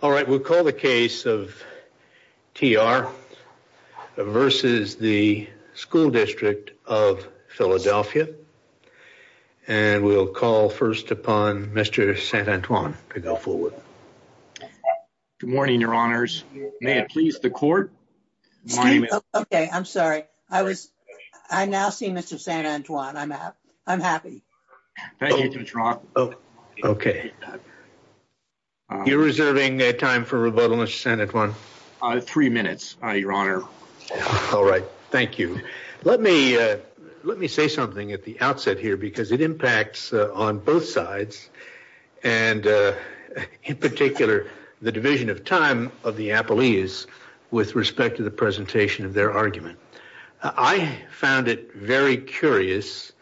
All right, we'll call the case of TR versus the School District of Philadelphia. And we'll call first upon Mr. St. Antoine to go forward. Good morning, your honors. May it please the court. Okay, I'm sorry. I now see Mr. St. Antoine. I'm happy. Thank you, Mr. Roth. Okay, you're reserving time for rebuttal, Mr. St. Antoine? Three minutes, your honor. All right, thank you. Let me say something at the outset here because it impacts on both sides and in particular the division of time of the appellees with respect to the presentation of their argument. I found it very curious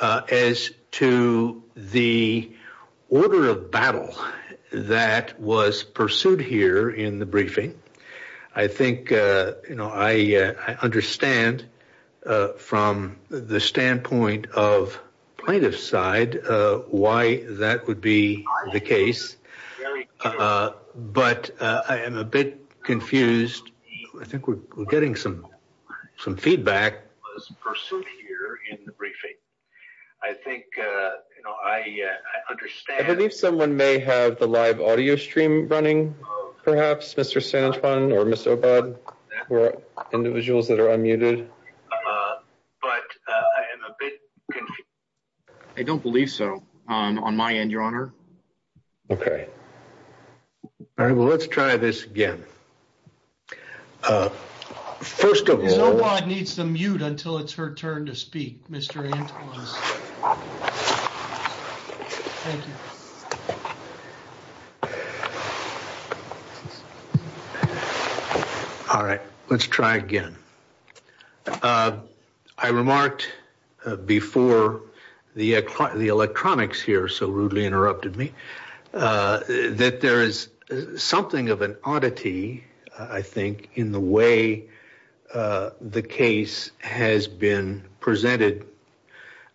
as to the order of battle that was pursued here in the briefing. I think, you know, I understand from the standpoint of plaintiff's side why that would be the case. But I am a bit confused. I think we're getting some feedback. Pursued here in the briefing. I think, you know, I understand. I believe someone may have the live audio stream running perhaps, Mr. St. Antoine or Mr. Obad or individuals that are unmuted. But I am a bit confused. I don't believe so, on my end, your honor. Okay. All right, well, let's try this again. First of all... Mr. Obad needs to mute until it's her turn to speak, Mr. St. Antoine. All right, let's try again. I remarked before the electronics here so rudely interrupted me that there is something of an oddity, I think, in the way the case has been presented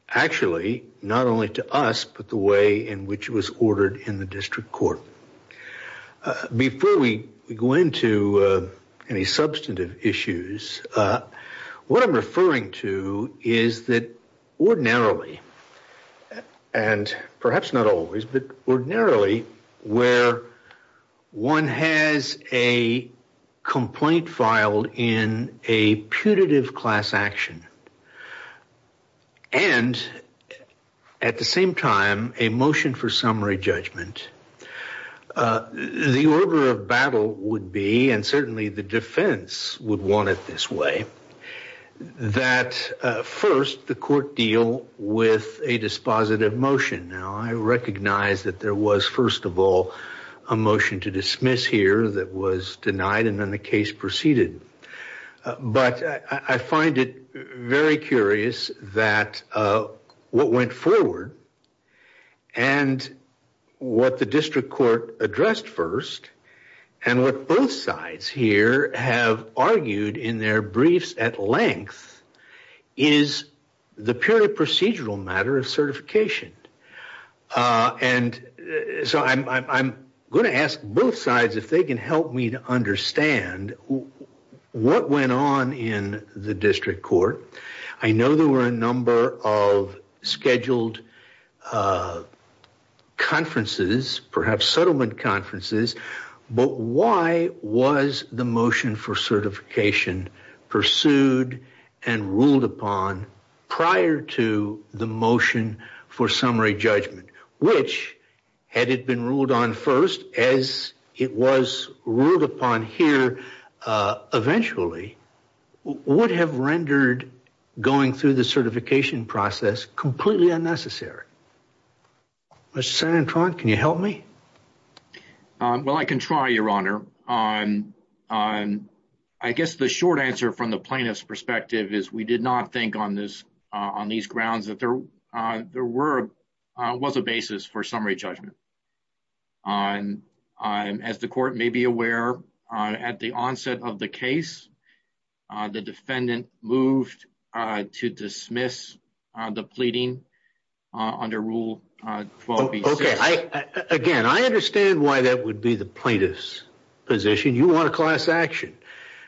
actually not only to us but the way in which it was ordered in the district court. Before we go into any substantive issues, what I'm referring to is that ordinarily, and perhaps not always, but ordinarily where one has a complaint filed in a putative class action and at the same time a motion for summary judgment, the order of battle would be, and certainly the defense would want it this way, that first the court deal with a dispositive motion. Now, I recognize that there was, first of all, a motion to dismiss here that was denied and then the case proceeded, but I find it very curious that what went forward and what the district court addressed first and what both sides here have argued in their briefs at length is the purely procedural matter of certification. And so I'm going to ask both sides if they can help me to understand what went on in the district court. I know there were a number of scheduled conferences, perhaps settlement conferences, but why was the motion for certification pursued and ruled upon prior to the motion for summary judgment, which, had it been ruled on first as it was ruled upon here eventually, would have rendered going through the certification process completely unnecessary? Mr. Santron, can you help me? Well, I can try, Your Honor. I guess the short answer from the plaintiff's perspective is we did not think on these grounds that there was a basis for summary judgment. As the court may be aware, at the onset of the case, the defendant moved to dismiss the pleading under Rule 12-B-6. Okay. Again, I understand why that would be the plaintiff's position. You want a class action.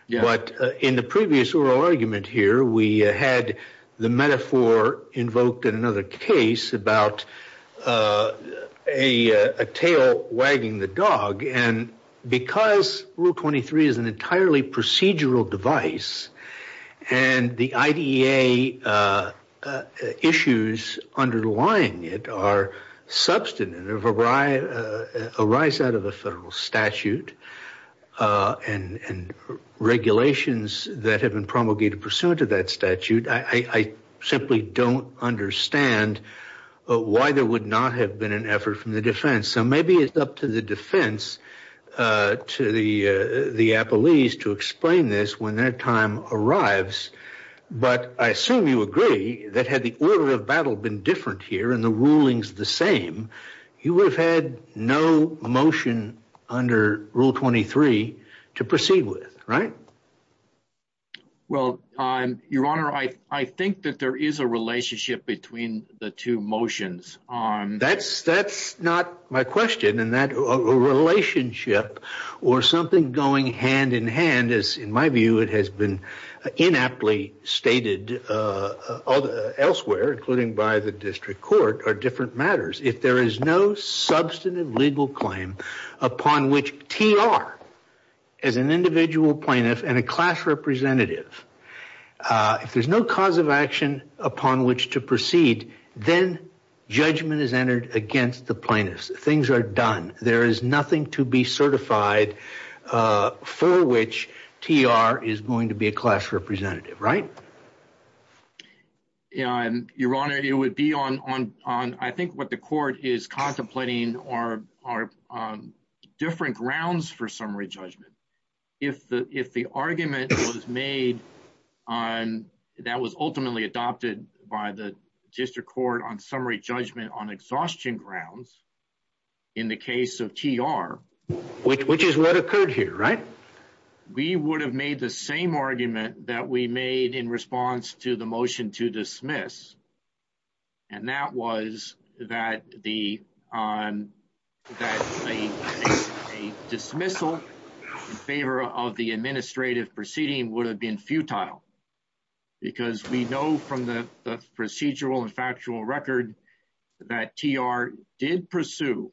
But in the previous oral argument here, we had the metaphor invoked in another case about a tail wagging the dog. And because Rule 23 is an entirely procedural device and the IDEA issues underlying it are a rise out of a federal statute and regulations that have been promulgated pursuant to that statute, I simply don't understand why there would not have been an effort from the defense. So maybe it's up to the defense, to the appellees to explain this when their time arrives. But I assume you agree that had the order of battle been different here and the rulings the same, you would have had no motion under Rule 23 to proceed with, right? Well, Your Honor, I think that there is a relationship between the two or something going hand in hand, as in my view, it has been inaptly stated elsewhere, including by the district court, are different matters. If there is no substantive legal claim upon which TR, as an individual plaintiff and a class representative, if there's no cause of action upon which to proceed, then judgment is entered against the plaintiffs. Things are done. There is nothing to be certified for which TR is going to be a class representative, right? Yeah, Your Honor, it would be on, I think what the court is contemplating are different grounds for summary judgment. If the argument was made on, that was ultimately adopted by the district court on summary judgment on exhaustion grounds, in the case of TR. Which is what occurred here, right? We would have made the same argument that we made in response to the motion to dismiss. And that was that a dismissal in favor of the administrative proceeding would have been futile. Because we know from the procedural and factual record that TR did pursue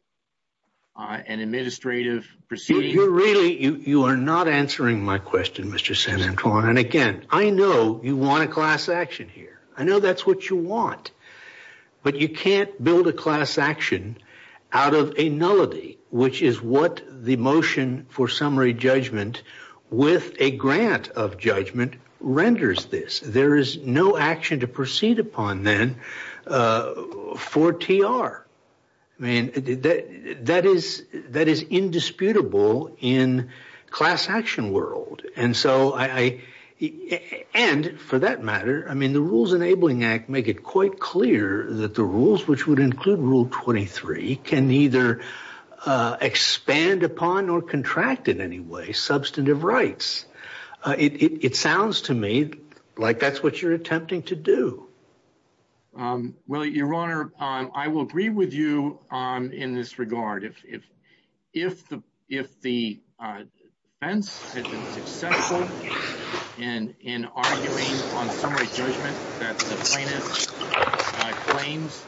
an administrative proceeding. You're really, you are not answering my question, Mr. Santorum. And again, I know you want a class action here. I know that's what you want. But you can't build a class action out of a nullity, which is what the motion for summary judgment with a grant of judgment renders this. There is no action to proceed upon, then, for TR. I mean, that is indisputable in class action world. And so I, and for that matter, I mean, the Rules Enabling Act make it quite clear that the rules, which would include Rule 23, can neither expand upon nor contract in any way substantive rights. It sounds to me like that's what you're attempting to do. Well, Your Honor, I will agree with you in this regard. If the defense had been successful in arguing on summary judgment that the plaintiff's claims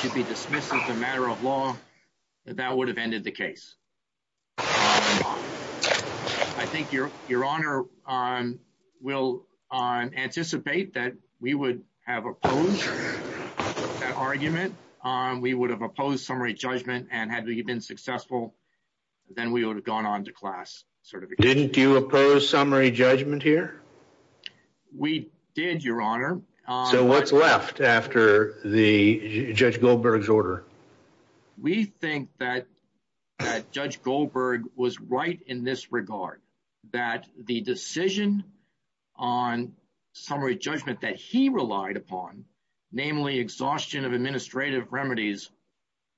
should be dismissed as a matter of law, that that would have ended the case. I think Your Honor will anticipate that we would have opposed that argument. We would have opposed summary judgment. And had we been successful, then we would have gone on to class certification. Didn't you oppose summary judgment here? We did, Your Honor. So what's left after Judge Goldberg's order? We think that Judge Goldberg was right in this regard, that the decision on summary judgment that he relied upon, namely exhaustion of administrative remedies,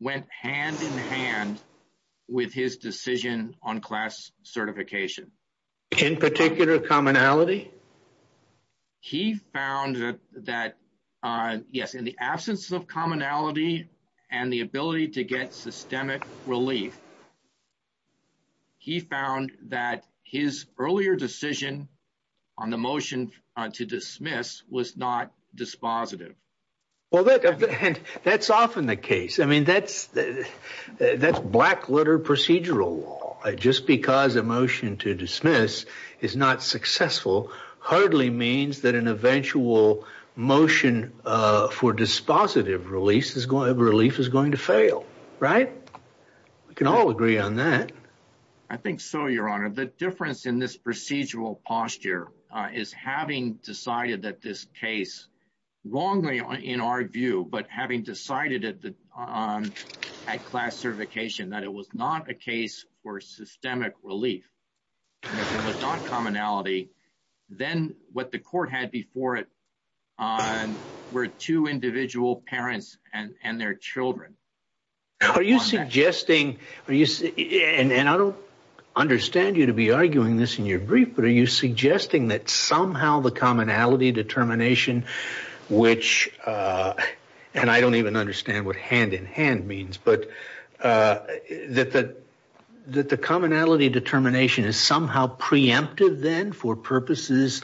went hand in hand with his decision on class certification. In particular, commonality? He found that, yes, in the absence of commonality and the ability to get systemic relief, he found that his earlier decision on the motion to dismiss was not dispositive. Well, that's often the case. I mean, that's black-litter procedural law. Just because a motion to dismiss is not successful hardly means that an eventual motion for dispositive relief is going to fail, right? We can all agree on that. I think so, Your Honor. The difference in this procedural posture is having decided that this case, wrongly in our view, but having decided at class certification that it was not a case for systemic relief, if it was not commonality, then what the court had before it were two I don't understand you to be arguing this in your brief, but are you suggesting that somehow the commonality determination, which, and I don't even understand what hand in hand means, but that the commonality determination is somehow preemptive then for purposes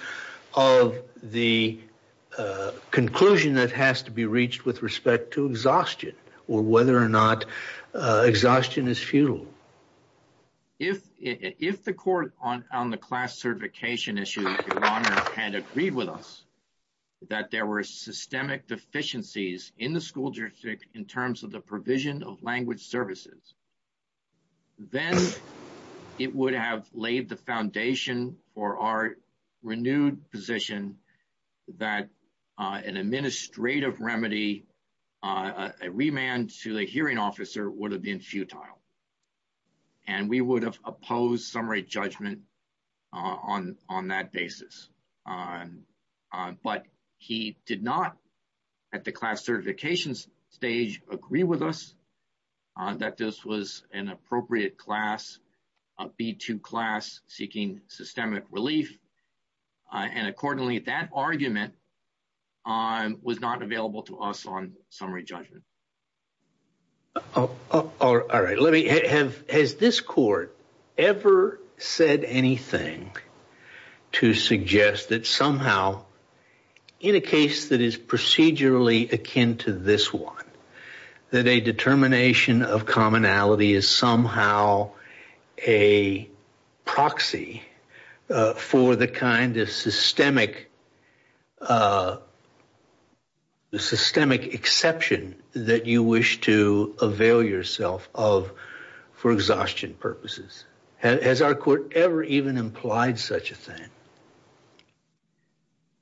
of the conclusion that has to be reached with respect to exhaustion or whether or not exhaustion is futile? If the court on the class certification issue, Your Honor, had agreed with us that there were systemic deficiencies in the school jurisdiction in terms of the provision of language services, then it would have laid the foundation for our renewed position that an administrative remedy, a remand to a hearing officer would have been futile. And we would have opposed summary judgment on that basis. But he did not, at the class certification stage, agree with us that this was an appropriate class, a B2 class seeking systemic relief. And accordingly, that argument was not available to us on summary judgment. All right, let me, has this court ever said anything to suggest that somehow in a case that is procedurally akin to this one, that a determination of commonality is somehow a proxy for the kind of systemic exception that you wish to avail yourself of for exhaustion purposes? Has our court ever even implied such a thing?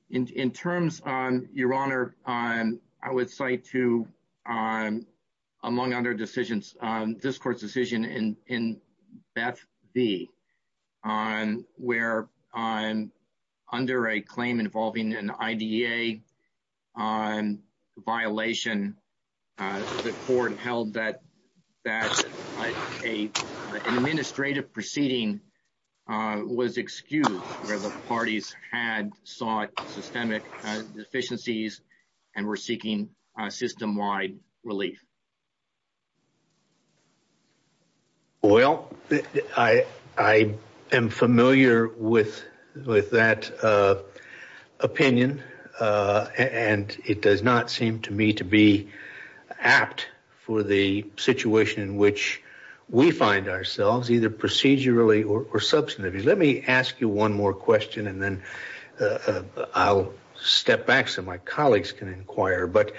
In terms, Your Honor, I would cite to, among other decisions, this court's decision in Beth B, where under a claim involving an IDA violation, the court held that an administrative proceeding was excused where the parties had sought systemic deficiencies and were seeking system-wide relief. Well, I am familiar with that opinion, and it does not seem to me to be substantive. Let me ask you one more question, and then I'll step back so my colleagues can inquire. But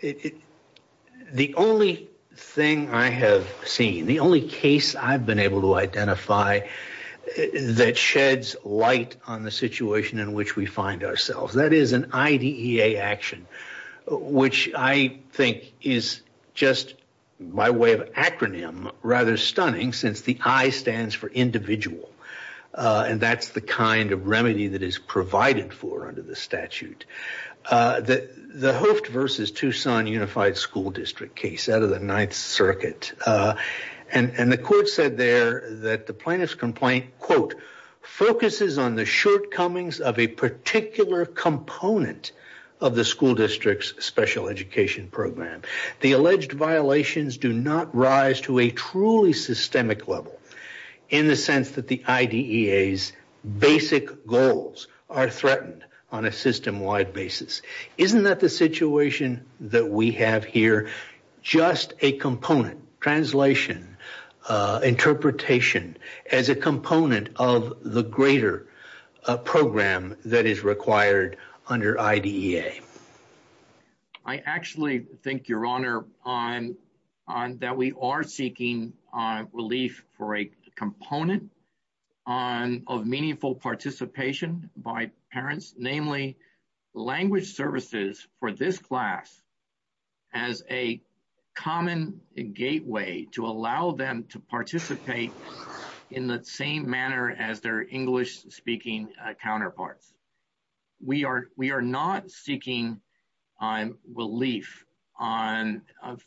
the only thing I have seen, the only case I've been able to identify that sheds light on the situation in which we find ourselves, that is an IDEA action, which I think is just, by way of acronym, rather stunning since the I stands for individual, and that's the kind of remedy that is provided for under the statute. The Hooft v. Tucson Unified School District case out of the Ninth Circuit, and the court said there that the plaintiff's complaint, quote, focuses on the shortcomings of a particular component of the school district's special education program. The alleged violations do not rise to a truly systemic level in the sense that the IDEA's basic goals are threatened on a system-wide basis. Isn't that the situation that we have here, just a component, translation, interpretation, as a component of the greater program that is required under IDEA? I actually think, Your Honor, that we are seeking relief for a component of meaningful participation by parents, namely language services for this class as a common gateway to allow them to participate in the same manner as their English-speaking counterparts. We are not seeking relief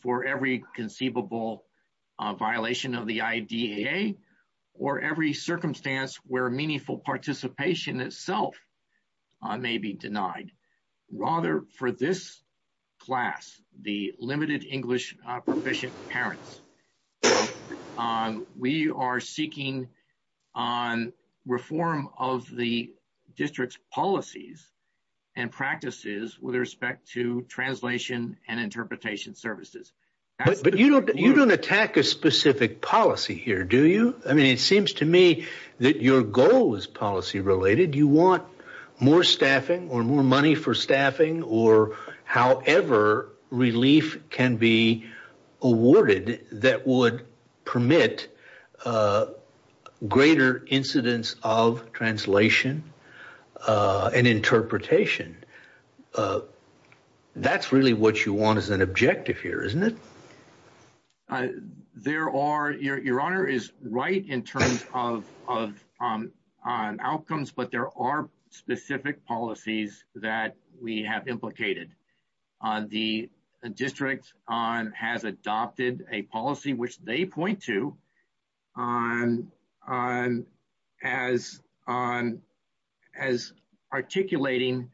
for every conceivable violation of the IDEA or every circumstance where meaningful participation itself may be denied. Rather, for this class, the limited English-proficient parents, we are seeking reform of the district's policies and practices with respect to translation and interpretation services. But you don't attack a specific policy here, do you? I mean, it seems to me that your goal is policy-related. You want more staffing or more money for staffing or however relief can be awarded that would permit greater incidence of translation and interpretation. That's really what you want as an objective here, isn't it? There are, Your Honor is right in terms of outcomes, but there are specific policies that we have implicated. The district has adopted a policy, which they point to, as articulating,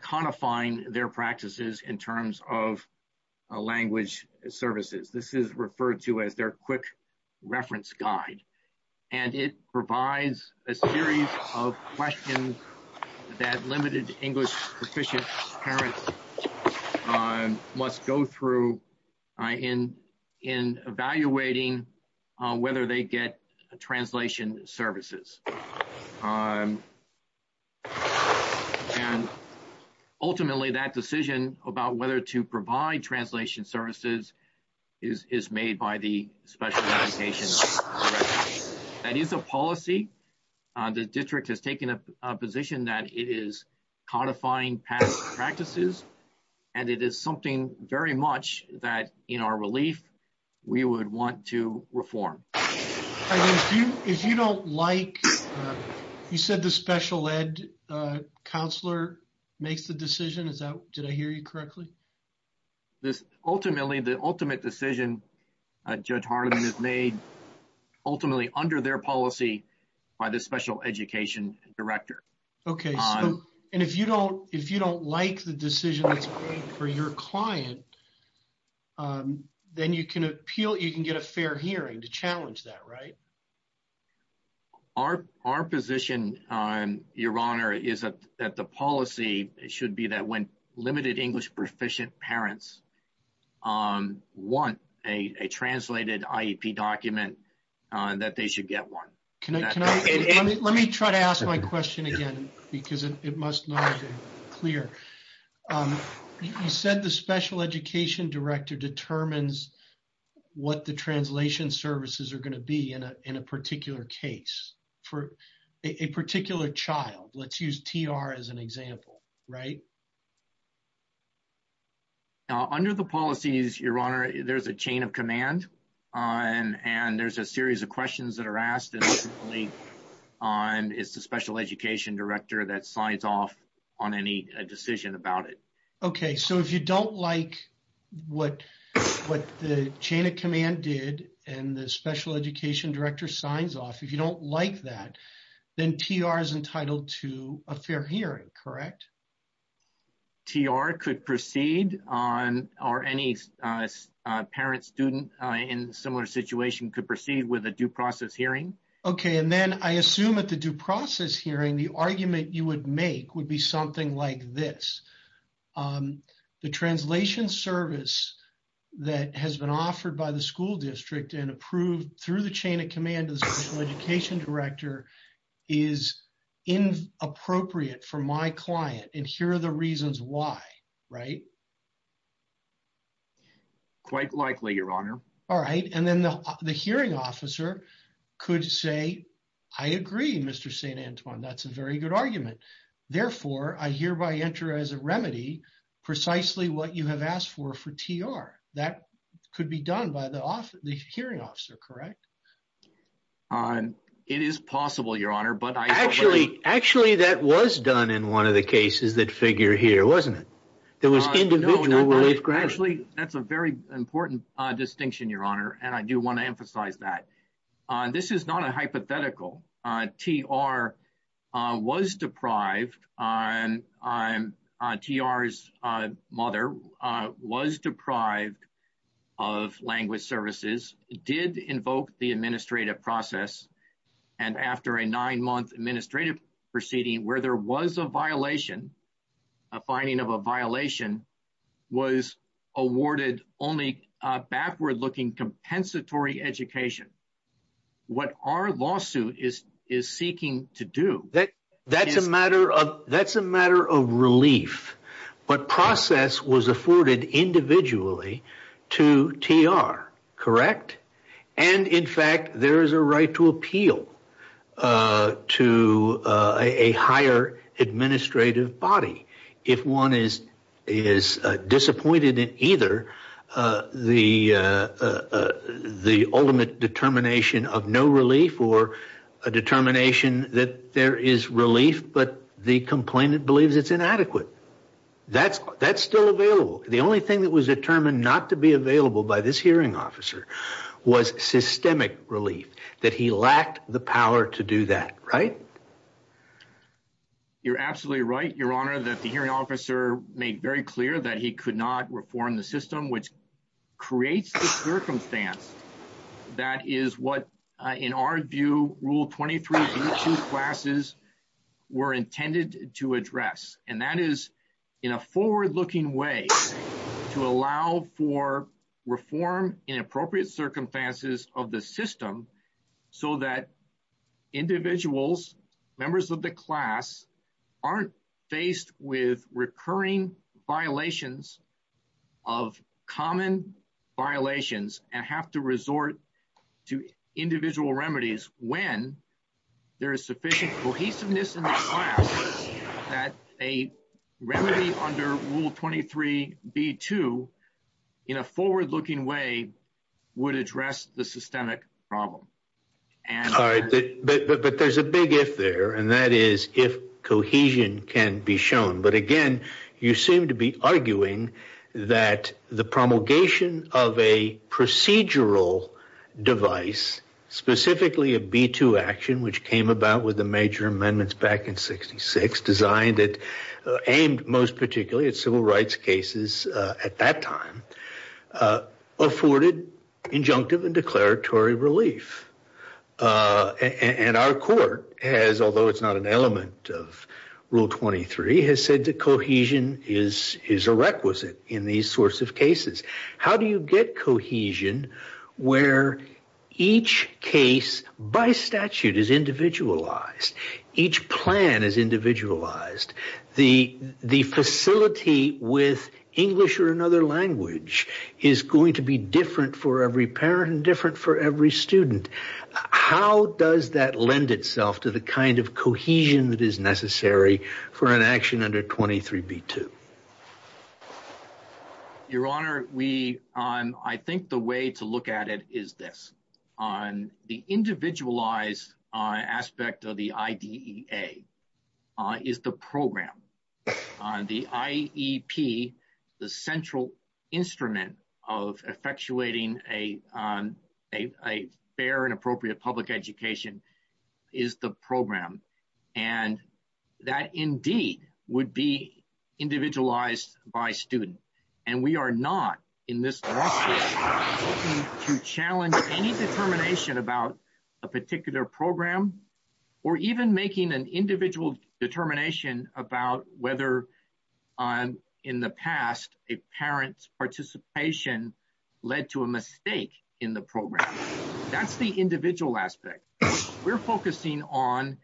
codifying their practices in terms of language services. This is referred to as their quick reference guide, and it provides a series of questions that limited English-proficient parents must go through in evaluating whether they get translation services. And ultimately, that decision about whether to provide translation services is made by the special education director. That is a policy. The district has taken a position that it is codifying past practices, and it is something very much that, in our relief, we would want to reform. You said the special ed counselor makes the decision. Did I hear you correctly? Ultimately, the ultimate decision, Judge Harlan, is made ultimately under their policy by the special education director. Okay. And if you don't like the decision that's made for your client, then you can get a fair hearing to challenge that, right? Our position, Your Honor, is that the policy should be that when limited English-proficient parents want a translated IEP document, that they should get one. Let me try to ask my question again, because it must not be clear. You said the special education director determines what the translation services are going to be in a particular case, for a particular child. Let's use TR as an example, right? Okay. Under the policies, Your Honor, there's a chain of command, and there's a series of questions that are asked, and ultimately, it's the special education director that signs off on any decision about it. Okay. So, if you don't like what the chain of command did, and the special education director signs off, if you don't like that, then TR is entitled to a fair hearing, correct? TR could proceed on, or any parent-student in a similar situation could proceed with a due process hearing. Okay. And then, I assume at the due process hearing, the argument you would make would be something like this. The translation service that has been offered by the school district, and approved through the chain of command of the special education director, is inappropriate for my client, and here are the reasons why, right? Quite likely, Your Honor. All right. And then, the hearing officer could say, I agree, Mr. St. Antoine. That's a very good argument. Therefore, I hereby enter as a remedy, precisely what you have asked for, for TR. That could be done by the hearing officer, correct? It is possible, Your Honor. Actually, that was done in one of the cases that figure here, wasn't it? There was individual relief grant. Actually, that's a very important distinction, Your Honor, and I do want to emphasize that. This is not a hypothetical. TR was deprived on TR's mother, was deprived of language services, did invoke the administrative process, and after a nine-month administrative proceeding where there was a violation, a finding of a violation, was awarded only a backward-looking compensatory education. What our lawsuit is seeking to do... That's a matter of relief, but process was afforded individually to TR, correct? And, in fact, there is a right to appeal to a higher administrative body if one is disappointed in either the ultimate determination of no relief or a determination that there is relief, but the complainant believes it's inadequate. That's still available. The only thing that was determined not to be available by this hearing officer was systemic relief, that he lacked the power to do that, right? You're absolutely right. That the hearing officer made very clear that he could not reform the system, which creates the circumstance that is what, in our view, Rule 23B2 classes were intended to address, and that is in a forward-looking way to allow for reform in appropriate circumstances of the system so that individuals, members of the class, aren't faced with recurring violations of common violations and have to resort to individual remedies when there is sufficient cohesiveness in the class that a remedy under Rule 23B2 in a forward-looking way would address the systemic problem. All right, but there's a big if there, and that is if cohesion can be shown, but, again, you seem to be arguing that the promulgation of a procedural device, specifically a B2 action, which came about with the major amendments back in 66, designed aimed most particularly at civil rights cases at that time, afforded injunctive and declaratory relief, and our court has, although it's not an element of Rule 23, has said that cohesion is a requisite in these sorts of cases. How do you get cohesion where each case by statute is individualized, each plan is individualized, the facility with English or another language is going to be different for every parent and different for every student? How does that lend itself to the kind of cohesion that is necessary for an action under Rule 23B2? Your Honor, I think the way to look at it is this. The individualized aspect of the IDEA is the program. The IEP, the central instrument of effectuating a fair and appropriate public education is the program, and that indeed would be individualized by student, and we are not in this lawsuit to challenge any determination about a particular program or even making an individual determination about whether in the past a parent's participation led to a mistake in the program. That's the individual aspect. What we're focusing on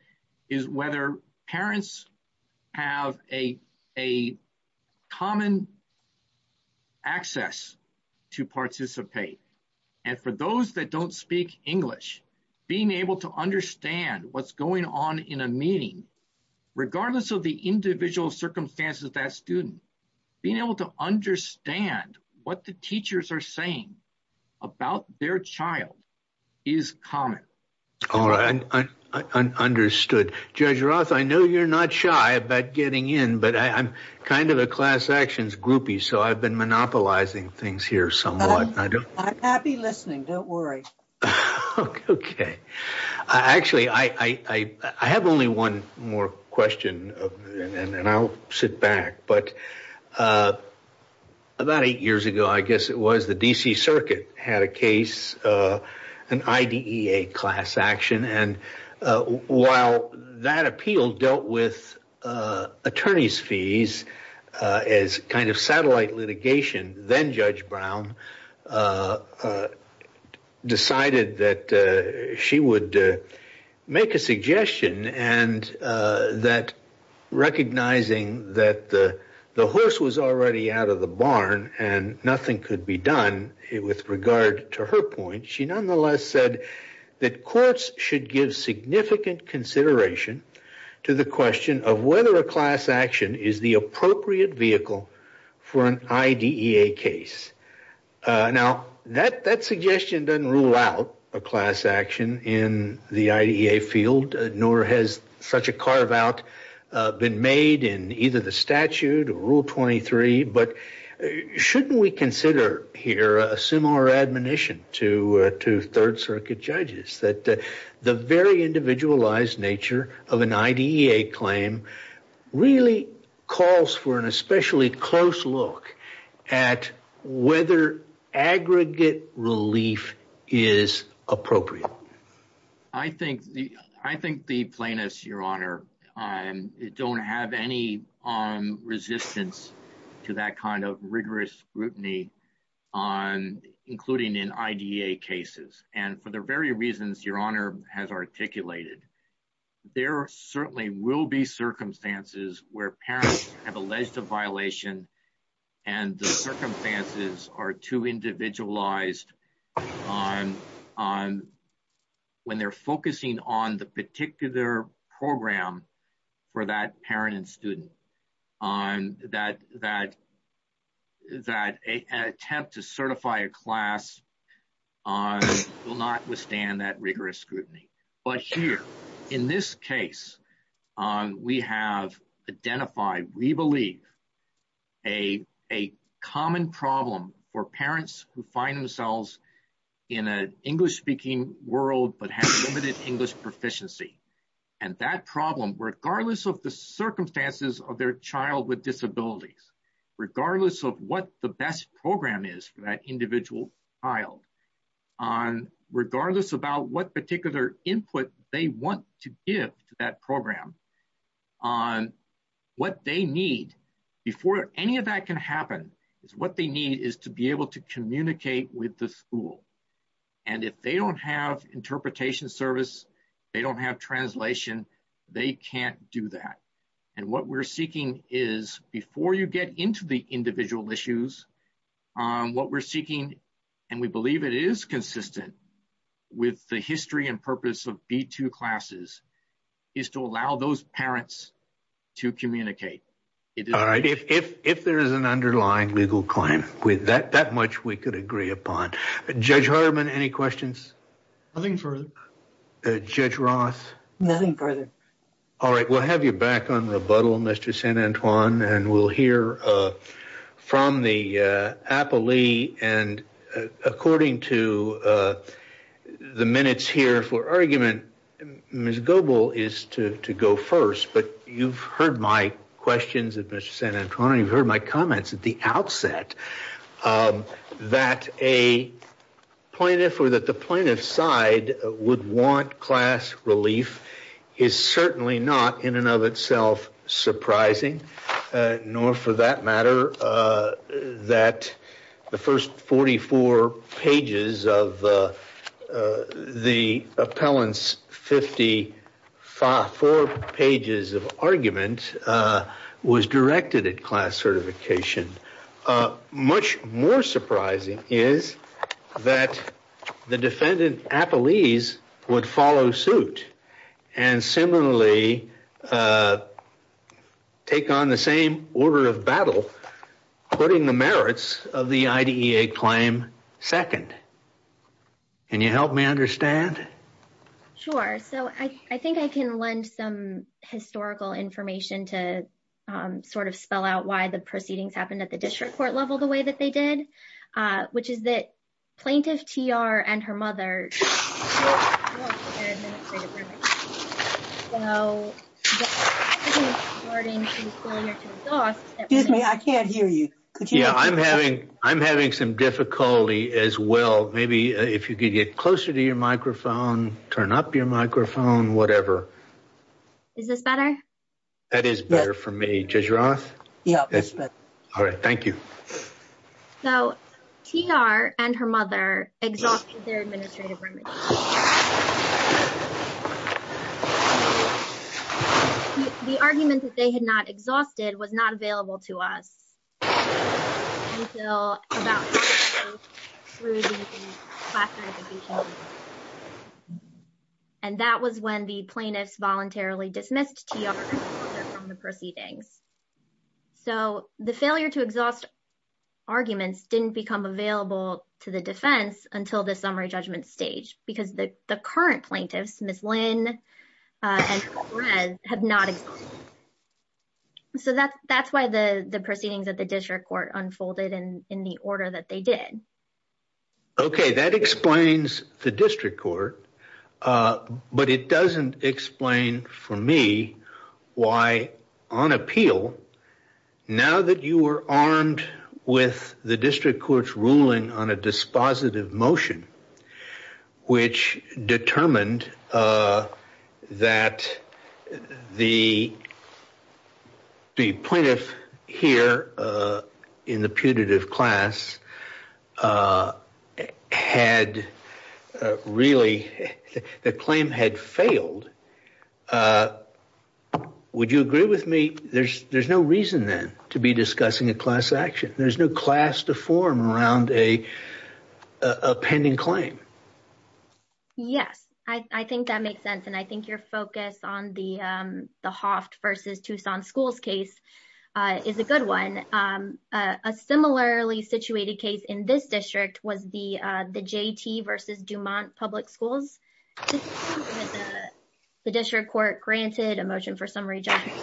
is whether parents have a common access to participate, and for those that don't speak English, being able to understand what's going on in a meeting, regardless of the individual circumstances of that student, being able to understand what the teachers are saying about their child is common. All right. Understood. Judge Roth, I know you're not shy about getting in, but I'm kind of a class actions groupie, so I've been monopolizing things here somewhat. I'm happy listening. Don't worry. Okay. Actually, I have only one more question, and then I'll sit back, but about eight years ago, I guess it was, the D.C. Circuit had a case, an IDEA class action, and while that appeal dealt with attorney's fees as kind of a satellite litigation, then-Judge Brown decided that she would make a suggestion, and that recognizing that the horse was already out of the barn and nothing could be done with regard to her point, she nonetheless said that courts should give significant consideration to the IDEA case. Now, that suggestion doesn't rule out a class action in the IDEA field, nor has such a carve-out been made in either the statute or Rule 23, but shouldn't we consider here a similar admonition to Third Circuit judges, that the very individualized nature of an IDEA claim really calls for an especially close look at whether aggregate relief is appropriate? I think the plaintiffs, Your Honor, don't have any resistance to that kind of rigorous scrutiny, including in IDEA cases, and for the very reasons Your Honor has articulated, there certainly will be circumstances where parents have alleged a violation, and the circumstances are too individualized on when they're focusing on the particular program for that parent and student, that an attempt to certify a class act will not withstand that rigorous scrutiny. But here, in this case, we have identified, we believe, a common problem for parents who find themselves in an English-speaking world but have limited English proficiency, and that problem, regardless of the circumstances of their child with disabilities, regardless of what the best program is for that individual child, regardless about what particular input they want to give to that program, what they need, before any of that can happen, is what they need is to be able to communicate with the school. And if they don't have interpretation service, they don't have translation, they can't do that. And what we're seeking is, before you get into the individual issues, what we're seeking, and we believe it is consistent with the history and purpose of B-2 classes, is to allow those parents to communicate. All right. If there is an underlying legal claim, that much we could agree upon. Judge Herman, any questions? Nothing further. Judge Ross? Nothing further. All right. We'll have you back on rebuttal, Mr. San Antoine. And we'll hear from the appellee. And according to the minutes here for argument, Ms. Goebel is to go first. But you've heard my questions of Mr. San Antoine. You've heard my comments at the outset that a plaintiff or that the plaintiff's side would want class relief is certainly not in and of itself surprising, nor for that matter that the first 44 pages of the appellant's 54 pages of argument was directed at class certification. A much more surprising is that the defendant appellees would follow suit and similarly take on the same order of battle, putting the merits of the IDEA claim second. Can you help me understand? Sure. So I think I can lend some historical information to sort of spell out why the proceedings happened at the district court level the way that they did, which is that Plaintiff TR and her mother. Yeah, I'm having some difficulty as well. Maybe if you could get closer to your microphone, turn up your microphone, whatever. Is this better? That is better for me. Judge Roth? Yeah, that's better. All right. Thank you. So TR and her mother exhausted their administrative remedies. The argument that they had not exhausted was not available to us until about half an hour through the class certification. And that was when the plaintiffs voluntarily dismissed TR and her mother from the proceedings. So the failure to exhaust arguments didn't become available to the defense until the summary judgment stage because the current plaintiffs, Ms. Lynn and Ms. Perez, have not. So that's why the proceedings at the district court unfolded in the order that they did. Okay, that explains the district court, but it doesn't explain for me why on appeal, now that you were armed with the district court's ruling on a dispositive motion, which determined that the plaintiff here in the putative class had really, the claim had failed. Would you agree with me? There's no reason then to be discussing a class action. There's no class to form around a pending claim. Yes, I think that makes sense. And I think your focus on the Hoft versus Tucson schools case is a good one. A similarly situated case in this district was the JT versus Dumont public schools. The district court granted a motion for summary judgment.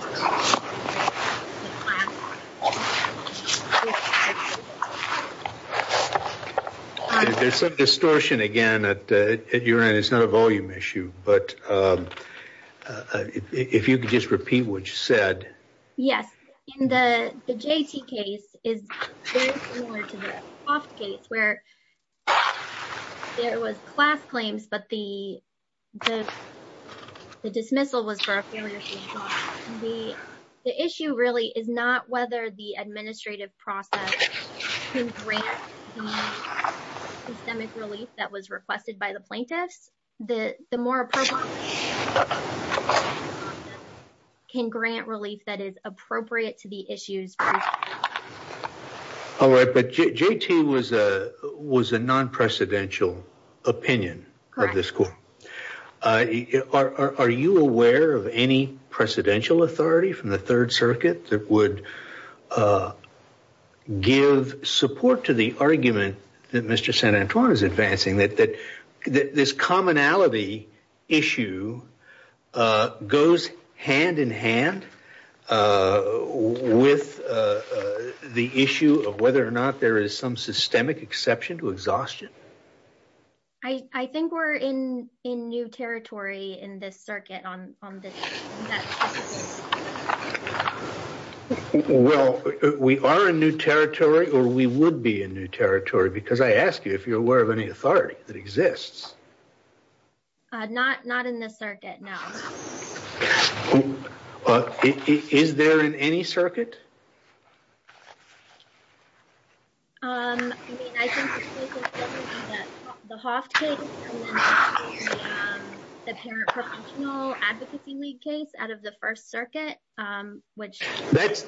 There's some distortion again at your end. It's not a volume issue, but if you could just repeat what you said. Yes, in the JT case is very similar to the Hoft case where there was class claims, but the dismissal was for a failure to exhaust. The issue really is not whether the administrative process can grant the systemic relief that was requested by the plaintiffs. The more appropriate process can grant relief that is appropriate to the issues. All right, but JT was a non-precedential opinion of the school. Are you aware of any other cases where the plaintiffs have given support to the argument that Mr. San Antoine is advancing, that this commonality issue goes hand in hand with the issue of whether or not there is some systemic exception to exhaustion? I think we're in new territory in this circuit. Well, we are in new territory or we would be in new territory because I asked you if you're aware of any authority that exists. Not in this circuit, no. Is there in any circuit? I mean, I think the Hoft case and then the Parent Professional Advocacy League case out of the First Circuit. That's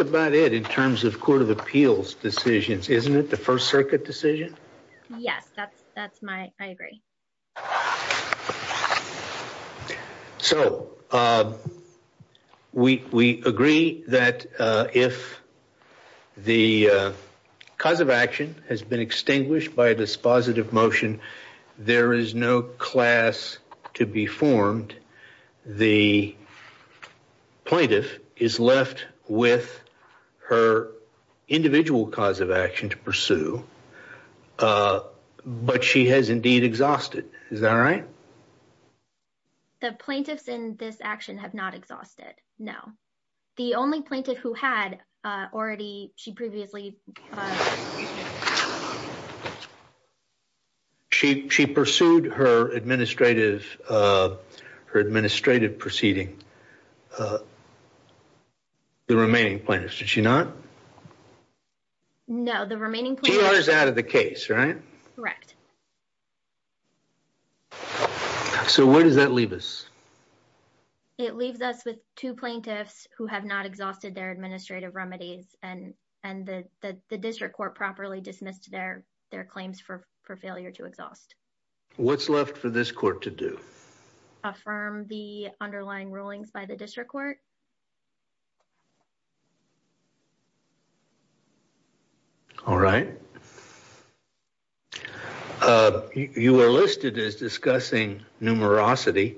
about it in terms of Court of Appeals decisions, isn't it? The First Circuit decision? Yes, that's my, I agree. So, we agree that if the cause of action has been extinguished by a dispositive motion, there is no class to be formed. The plaintiff is left with her individual cause of action to pursue, but she has indeed exhausted. Is that right? The plaintiffs in this action have not exhausted, no. The only plaintiff who had already, she previously... She pursued her administrative proceeding. The remaining plaintiffs, did she not? No, the remaining plaintiffs... Two hours out of the case, right? Correct. So, where does that leave us? It leaves us with two plaintiffs who have not exhausted their administrative remedies and the district court properly dismissed their claims for failure to exhaust. What's left for this court to do? Affirm the underlying rulings by the district court. All right. You were listed as discussing numerosity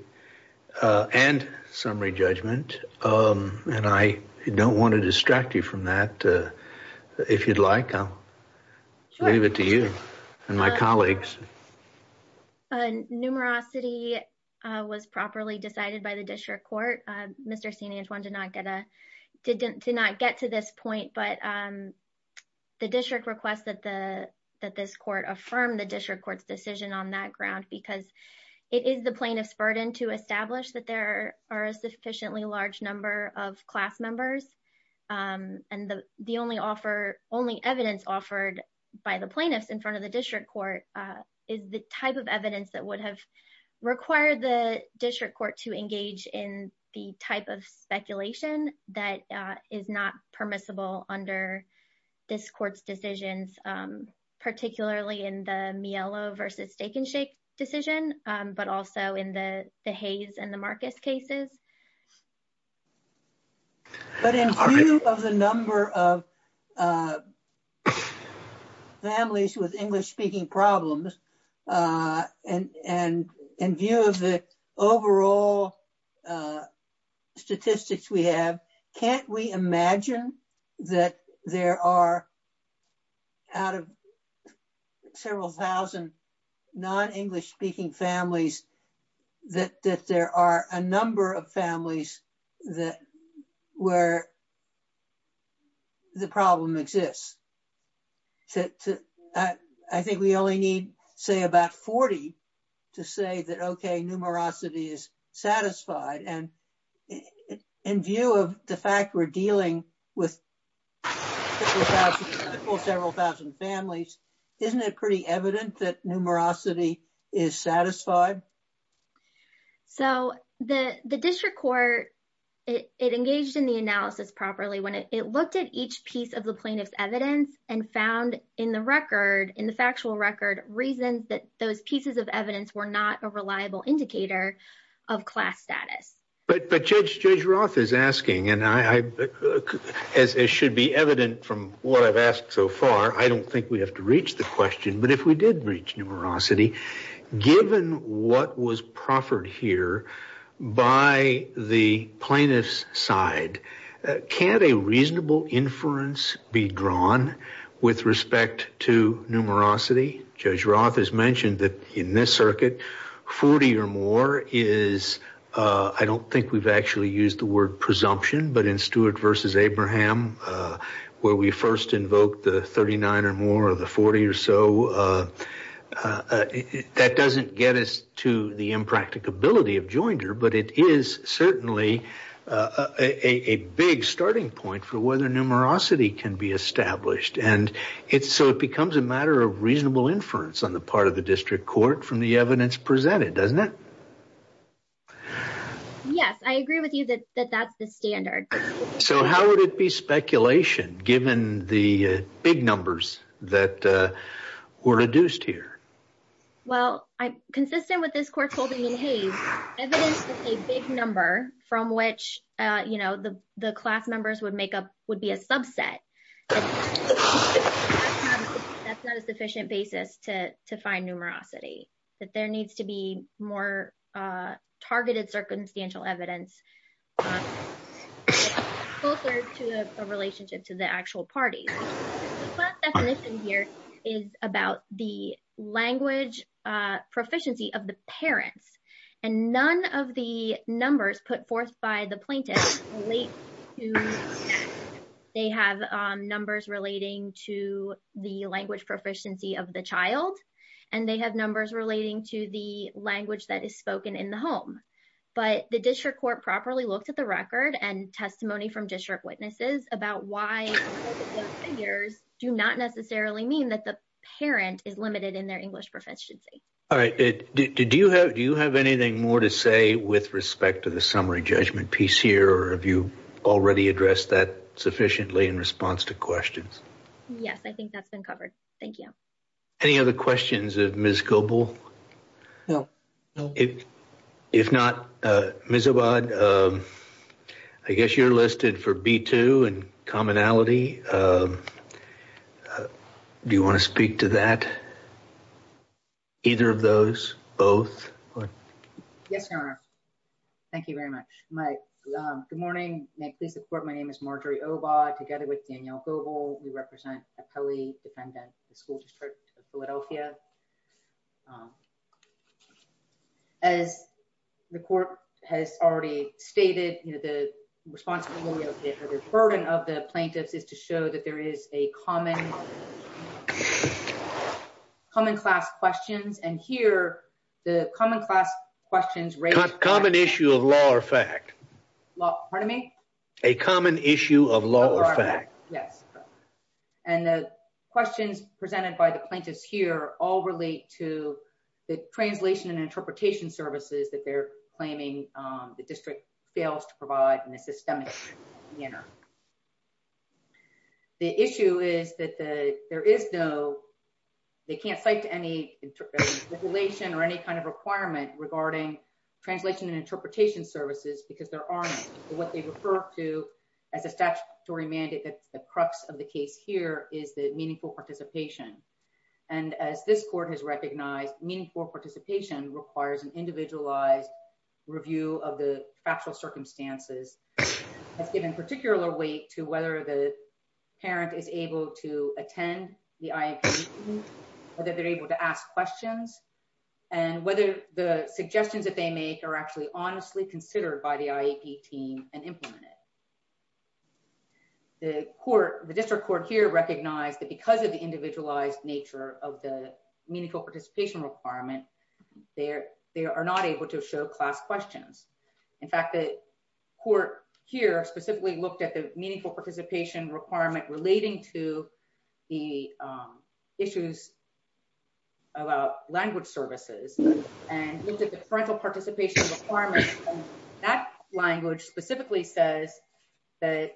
and summary judgment, and I don't want to distract you from that. If you'd like, I'll leave it to you and my colleagues. Numerosity was properly decided by the district court. Mr. Sinajuan did not get to this point but the district requests that this court affirm the district court's decision on that ground because it is the plaintiff's burden to establish that there are a sufficiently large number of class members. And the only evidence offered by the plaintiffs in front of the district court is the type of evidence that would have required the district court to engage in the type of under this court's decisions, particularly in the Mielo versus Steak and Shake decision, but also in the Hayes and the Marcus cases. But in view of the number of families with English-speaking problems and in view of the there are, out of several thousand non-English-speaking families, that there are a number of families that where the problem exists. I think we only need, say, about 40 to say that, okay, numerosity is satisfied. And in view of the fact we're dealing with several thousand families, isn't it pretty evident that numerosity is satisfied? So the district court, it engaged in the analysis properly when it looked at each piece of the plaintiff's evidence and found in the record, in the factual record, reasons that those pieces of evidence were not a reliable indicator of class status. But Judge Roth is asking, and it should be evident from what I've asked so far, I don't think we have to reach the question, but if we did reach numerosity, given what was proffered here by the plaintiff's side, can't a reasonable inference be drawn with respect to numerosity? Judge Roth has mentioned that in this circuit, 40 or more is, I don't think we've actually used the word presumption, but in Stewart versus Abraham, where we first invoked the 39 or more or the 40 or so, that doesn't get us to the impracticability of Joinder, but it is certainly a big starting point for whether numerosity can be established. And so it becomes a matter of reasonable inference on the part of the district court from the evidence presented, doesn't it? Yes, I agree with you that that's the standard. So how would it be speculation, given the big numbers that were reduced here? Well, consistent with this court holding in Hays, evidence with a big number from which the class members would make up would be a subset. That's not a sufficient basis to find numerosity, that there needs to be more targeted circumstantial evidence closer to a relationship to the actual parties. The definition here is about the language proficiency of the parents, and none of the numbers relating to the language proficiency of the child, and they have numbers relating to the language that is spoken in the home. But the district court properly looked at the record and testimony from district witnesses about why those figures do not necessarily mean that the parent is limited in their English proficiency. All right. Do you have anything more to say with respect to the summary judgment piece here, or have you already addressed that in response to questions? Yes, I think that's been covered. Thank you. Any other questions of Ms. Gobel? No. If not, Ms. Obad, I guess you're listed for B-2 and commonality. Do you want to speak to that, either of those, both? Yes, Your Honor. Thank you very much. Good morning. May I please report my name is Marjorie Obad, together with Danielle Gobel. We represent a Pelley defendant, the school district of Philadelphia. As the court has already stated, the responsibility of the burden of the plaintiffs is to show that there is a common class questions, and here the common class questions- Common issue of law or fact. Pardon me? A common issue of law or fact. Yes. And the questions presented by the plaintiffs here all relate to the translation and interpretation services that they're claiming the district fails to provide in a systemic manner. The issue is that there is no, they can't cite to any stipulation or any kind of requirement regarding translation and interpretation services because there aren't what they refer to as a statutory mandate. That's the crux of the case here is the meaningful participation. And as this court has recognized, meaningful participation requires an individualized review of the factual circumstances. That's given particular weight to whether the parent is able to attend the IEP, whether they're able to ask questions, and whether the suggestions that they make are actually honestly considered by the IEP team and implemented. The court, the district court here recognized that because of the individualized nature of the meaningful participation requirement, they are not able to show class questions. In fact, the court here specifically looked at the meaningful participation requirement relating to the issues about language services and looked at the parental participation requirement. That language specifically says that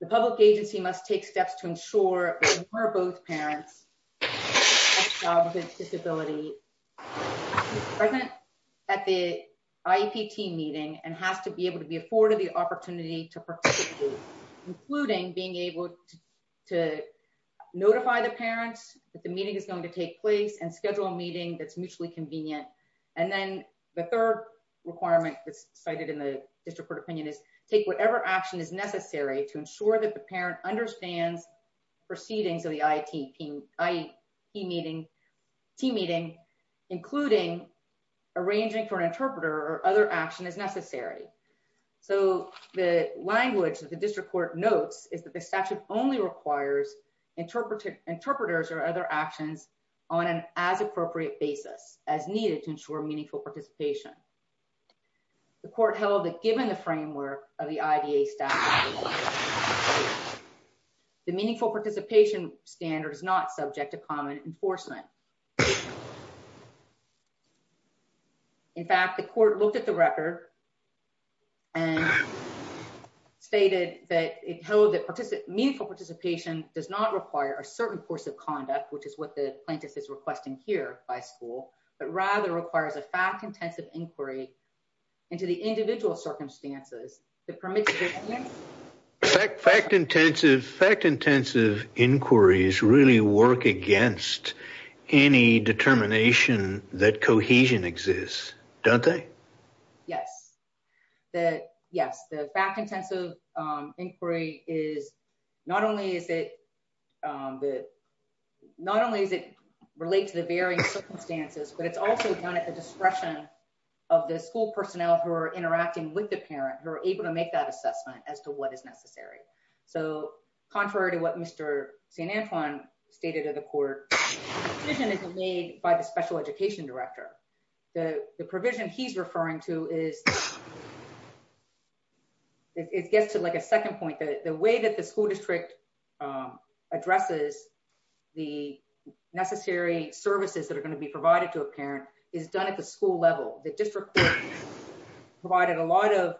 the public agency must take steps to ensure that both parents have a child with a disability present at the IEP team meeting and has to be able to be afforded opportunity to participate, including being able to notify the parents that the meeting is going to take place and schedule a meeting that's mutually convenient. And then the third requirement that's cited in the district court opinion is take whatever action is necessary to ensure that the parent understands proceedings of the IEP team meeting, including arranging for an interpreter or other action as necessary. So the language that the district court notes is that the statute only requires interpreters or other actions on an as appropriate basis as needed to ensure meaningful participation. The court held that given the framework of the IDA statute, the meaningful participation standard is not subject to common enforcement. In fact, the court looked at the record and stated that it held that meaningful participation does not require a certain course of conduct, which is what the plaintiff is requesting here by school, but rather requires a fact intensive inquiry into the individual circumstances that any determination that cohesion exists, don't they? Yes, that yes, the fact intensive inquiry is not only is it that not only is it relate to the various circumstances, but it's also done at the discretion of the school personnel who are interacting with the parent who are able to make that assessment as to what is necessary. So contrary to what Mr. San Antoine stated at the decision is made by the special education director. The provision he's referring to is it gets to like a second point that the way that the school district addresses the necessary services that are going to be provided to a parent is done at the school level. The district provided a lot of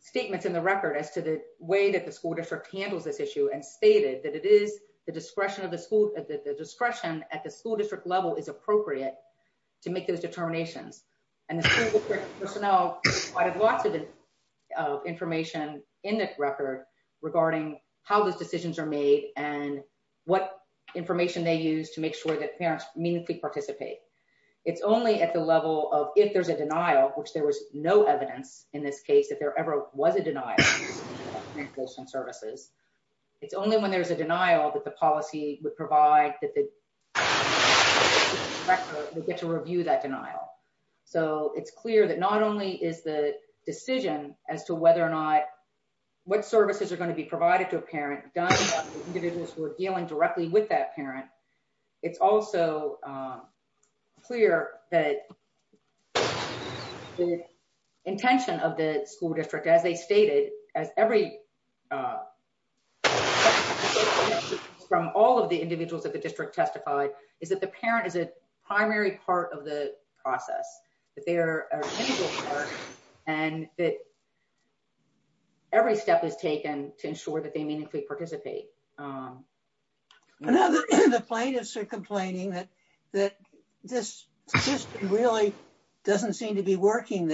statements in the record as to the way that the school district handles this issue and stated that it is the discretion at the school district level is appropriate to make those determinations. And the school personnel provided lots of information in that record regarding how those decisions are made and what information they use to make sure that parents meaningfully participate. It's only at the level of if there's a denial, which there was no evidence in this case, there ever was a denial, it's only when there's a denial that the policy would provide that the director would get to review that denial. So it's clear that not only is the decision as to whether or not what services are going to be provided to a parent done by individuals who are dealing directly with that parent, it's also clear that the intention of the school district, as they stated, as every... From all of the individuals that the district testified is that the parent is a primary part of the process, that they're an individual part and that every step is taken to ensure that they meaningfully participate. The plaintiffs are complaining that this system really doesn't seem to be working.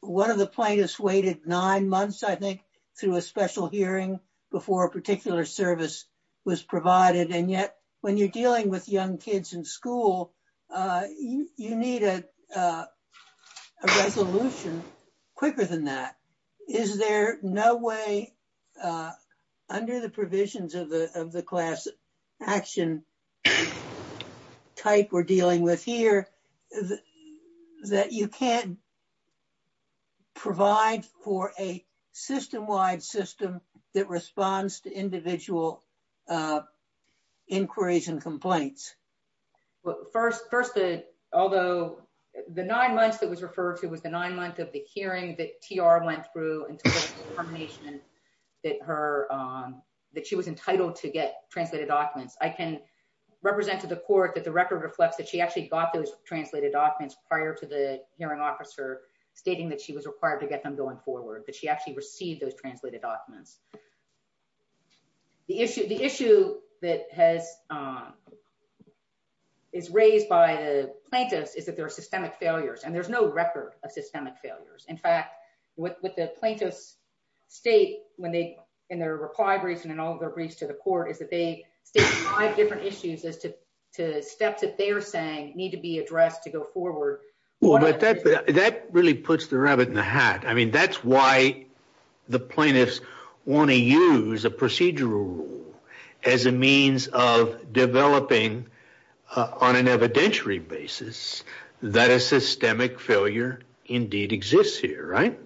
One of the plaintiffs waited nine months, I think, through a special hearing before a particular service was provided. And yet, when you're dealing with young kids in school, you need a resolution quicker than that. Is there no way under the provisions of the class action type we're dealing with here that you can't provide for a system-wide system that responds to individual inquiries and complaints? First, although the nine months that was referred to of the hearing that TR went through until the determination that she was entitled to get translated documents, I can represent to the court that the record reflects that she actually got those translated documents prior to the hearing officer stating that she was required to get them going forward, but she actually received those translated documents. The issue that is raised by the plaintiffs is that there are systemic failures and there's no record of systemic failures. In fact, what the plaintiffs state in their reply briefs and in all their briefs to the court is that they state five different issues as to steps that they're saying need to be addressed to go forward. That really puts the rabbit in the hat. I mean, that's why the plaintiffs want to use a procedural rule as a means of developing on an evidentiary basis that a systemic failure indeed exists here, right?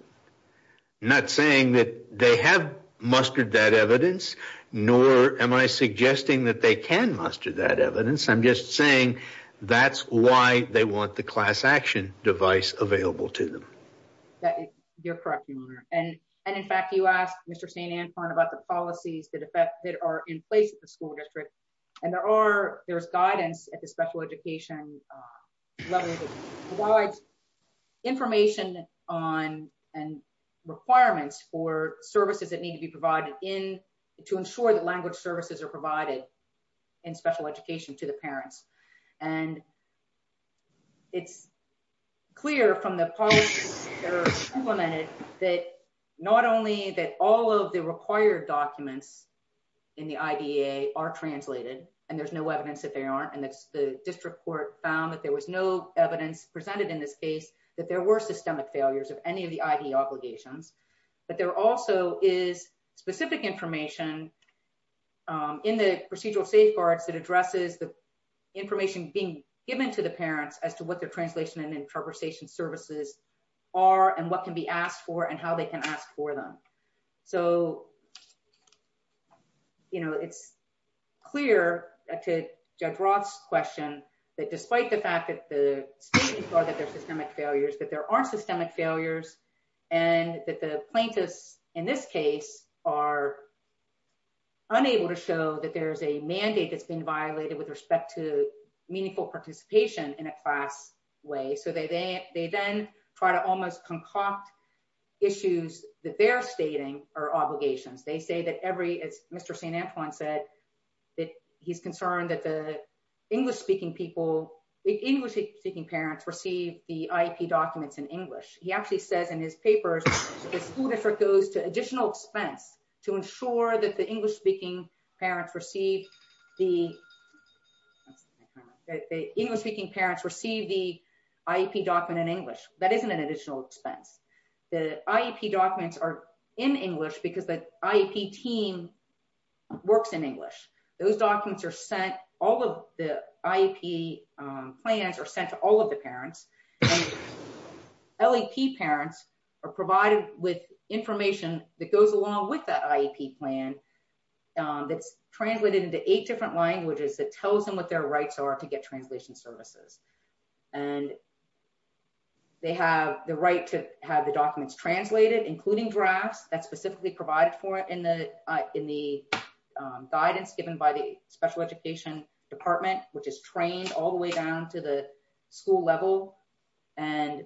Not saying that they have mustered that evidence, nor am I suggesting that they can muster that evidence. I'm just saying that's why they want the class action device available to them. You're correct, your honor. In fact, you asked Mr. Stanton about the policies that are in place at the school district and there's guidance at the special education level that provides information on and requirements for services that need to be provided to ensure that language services are provided in special education to the parents. And it's clear from the policies that are implemented that not only that all of the required documents in the IDA are translated and there's no evidence that they aren't and that's the district court found that there was no evidence presented in this case that there were systemic failures of any of the ID obligations, but there also is specific information in the procedural safeguards that addresses the information being given to the parents as to what their translation and interpretation services are and what can be asked for and how they can ask for them. So, you know, it's clear to Judge Roth's question that despite the fact that the statements are systemic failures, that there are systemic failures and that the plaintiffs in this case are unable to show that there's a mandate that's been violated with respect to meaningful participation in a class way. So, they then try to almost concoct issues that they're stating are obligations. They say that every, as Mr. Stanton said, that he's concerned that the English-speaking parents receive the IEP documents in English. He actually says in his papers, the school district goes to additional expense to ensure that the English-speaking parents receive the IEP document in English. That isn't an additional expense. The IEP documents are in English because the IEP team works in English. Those documents are sent, all of the IEP plans are sent to all of the parents. And LEP parents are provided with information that goes along with that IEP plan that's translated into eight different languages that tells them what their rights are to get translation services. And they have the right to have the documents translated, including drafts that's specifically provided for it in the guidance given by the to the school level. And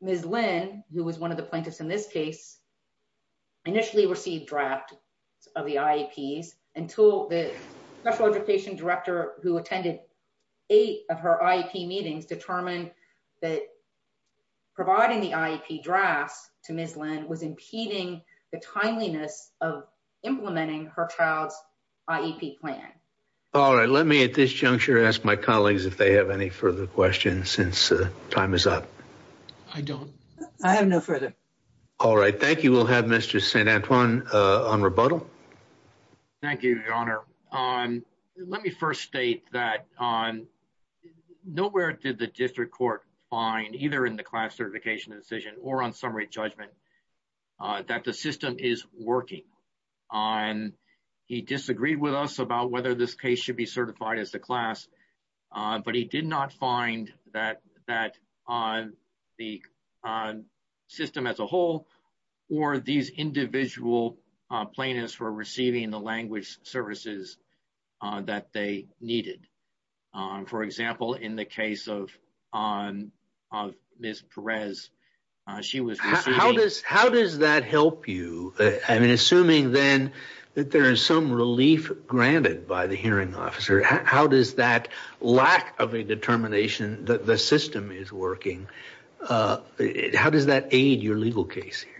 Ms. Lynn, who was one of the plaintiffs in this case, initially received drafts of the IEPs until the special education director who attended eight of her IEP meetings determined that providing the IEP drafts to Ms. Lynn was impeding the timeliness of implementing her child's IEP plan. All right. Let me at this if they have any further questions since time is up. I don't. I have no further. All right. Thank you. We'll have Mr. St. Antoine on rebuttal. Thank you, Your Honor. Let me first state that nowhere did the district court find either in the class certification decision or on summary judgment that the system is working. He disagreed with us about whether this case should be but he did not find that that on the system as a whole or these individual plaintiffs were receiving the language services that they needed. For example, in the case of Ms. Perez, she was. How does that help you? I mean, assuming then that there is some relief granted by the hearing officer, how does that lack of a determination that the system is working? How does that aid your legal case here?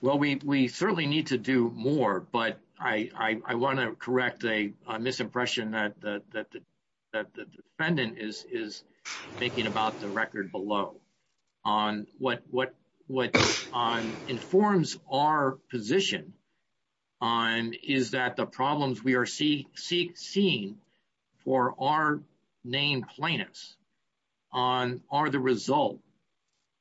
Well, we certainly need to do more, but I want to correct a misimpression that the defendant is thinking about the record below on what informs our position on is that the problems we are seeing for our named plaintiffs on are the result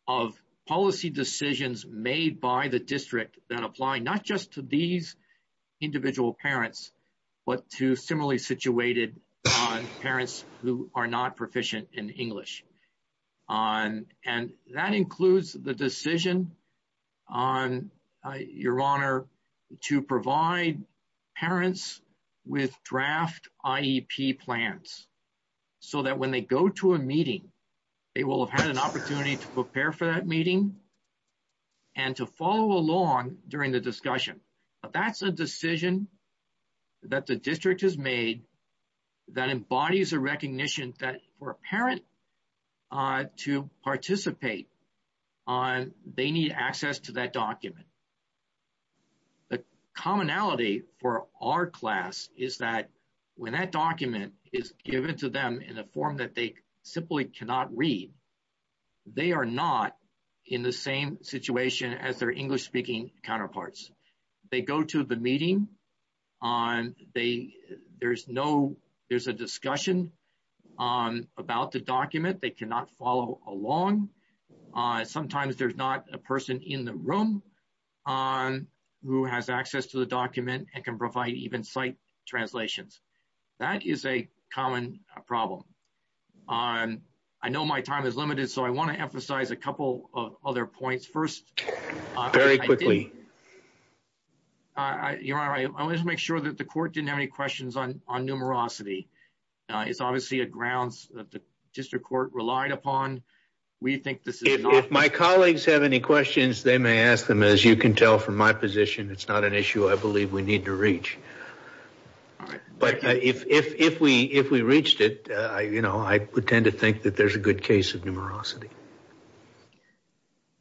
of policy decisions made by the district that apply not just to these individual parents, but to similarly situated parents who are not proficient in English. And that includes the to provide parents with draft IEP plans so that when they go to a meeting, they will have had an opportunity to prepare for that meeting and to follow along during the discussion. But that's a decision that the district has made that embodies a recognition that for a parent to participate on, they need access to that document. The commonality for our class is that when that document is given to them in a form that they simply cannot read, they are not in the same situation as their English-speaking counterparts. They go to the meeting. There's a discussion about the document. They cannot follow along. Sometimes there's not a person in the room who has access to the document and can provide even sight translations. That is a common problem. I know my time is limited, so I want to emphasize a couple of other points. First, I want to make sure that the court didn't have any questions on numerosity. It's obviously a grounds that the district court relied upon. If my colleagues have any questions, they may ask them. As you can tell from my position, it's not an issue I believe we need to reach. But if we reached it, I tend to think that there's a good case of numerosity.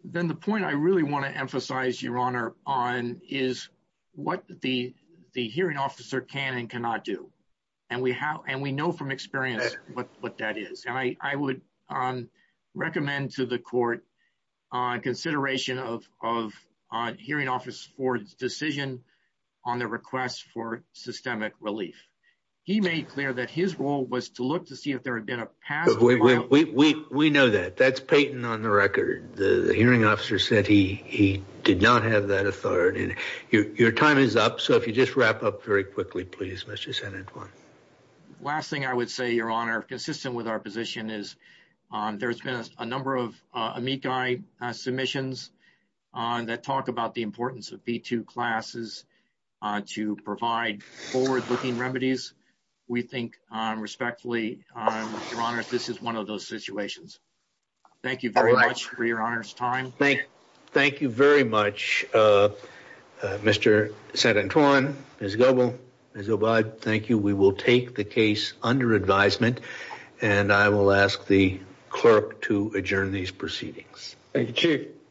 The point I really want to emphasize is what the hearing officer can and cannot do. We know from experience what that is. I would recommend to the court consideration of the hearing officer's decision on the request for systemic relief. He made clear his role was to look to see if there had been a pass. We know that. That's Payton on the record. The hearing officer said he did not have that authority. Your time is up, so if you just wrap up very quickly, please. Last thing I would say, Your Honor, consistent with our position is there's been a number of submissions that talk about the importance of B-2 classes to provide forward-looking remedies. We think respectfully, Your Honor, this is one of those situations. Thank you very much for Your Honor's time. Thank you very much, Mr. Santorin, Ms. Goble, Ms. Obad. Thank you. We will take the case under advisement, and I will ask the clerk to adjourn these proceedings. Thank you, Chief.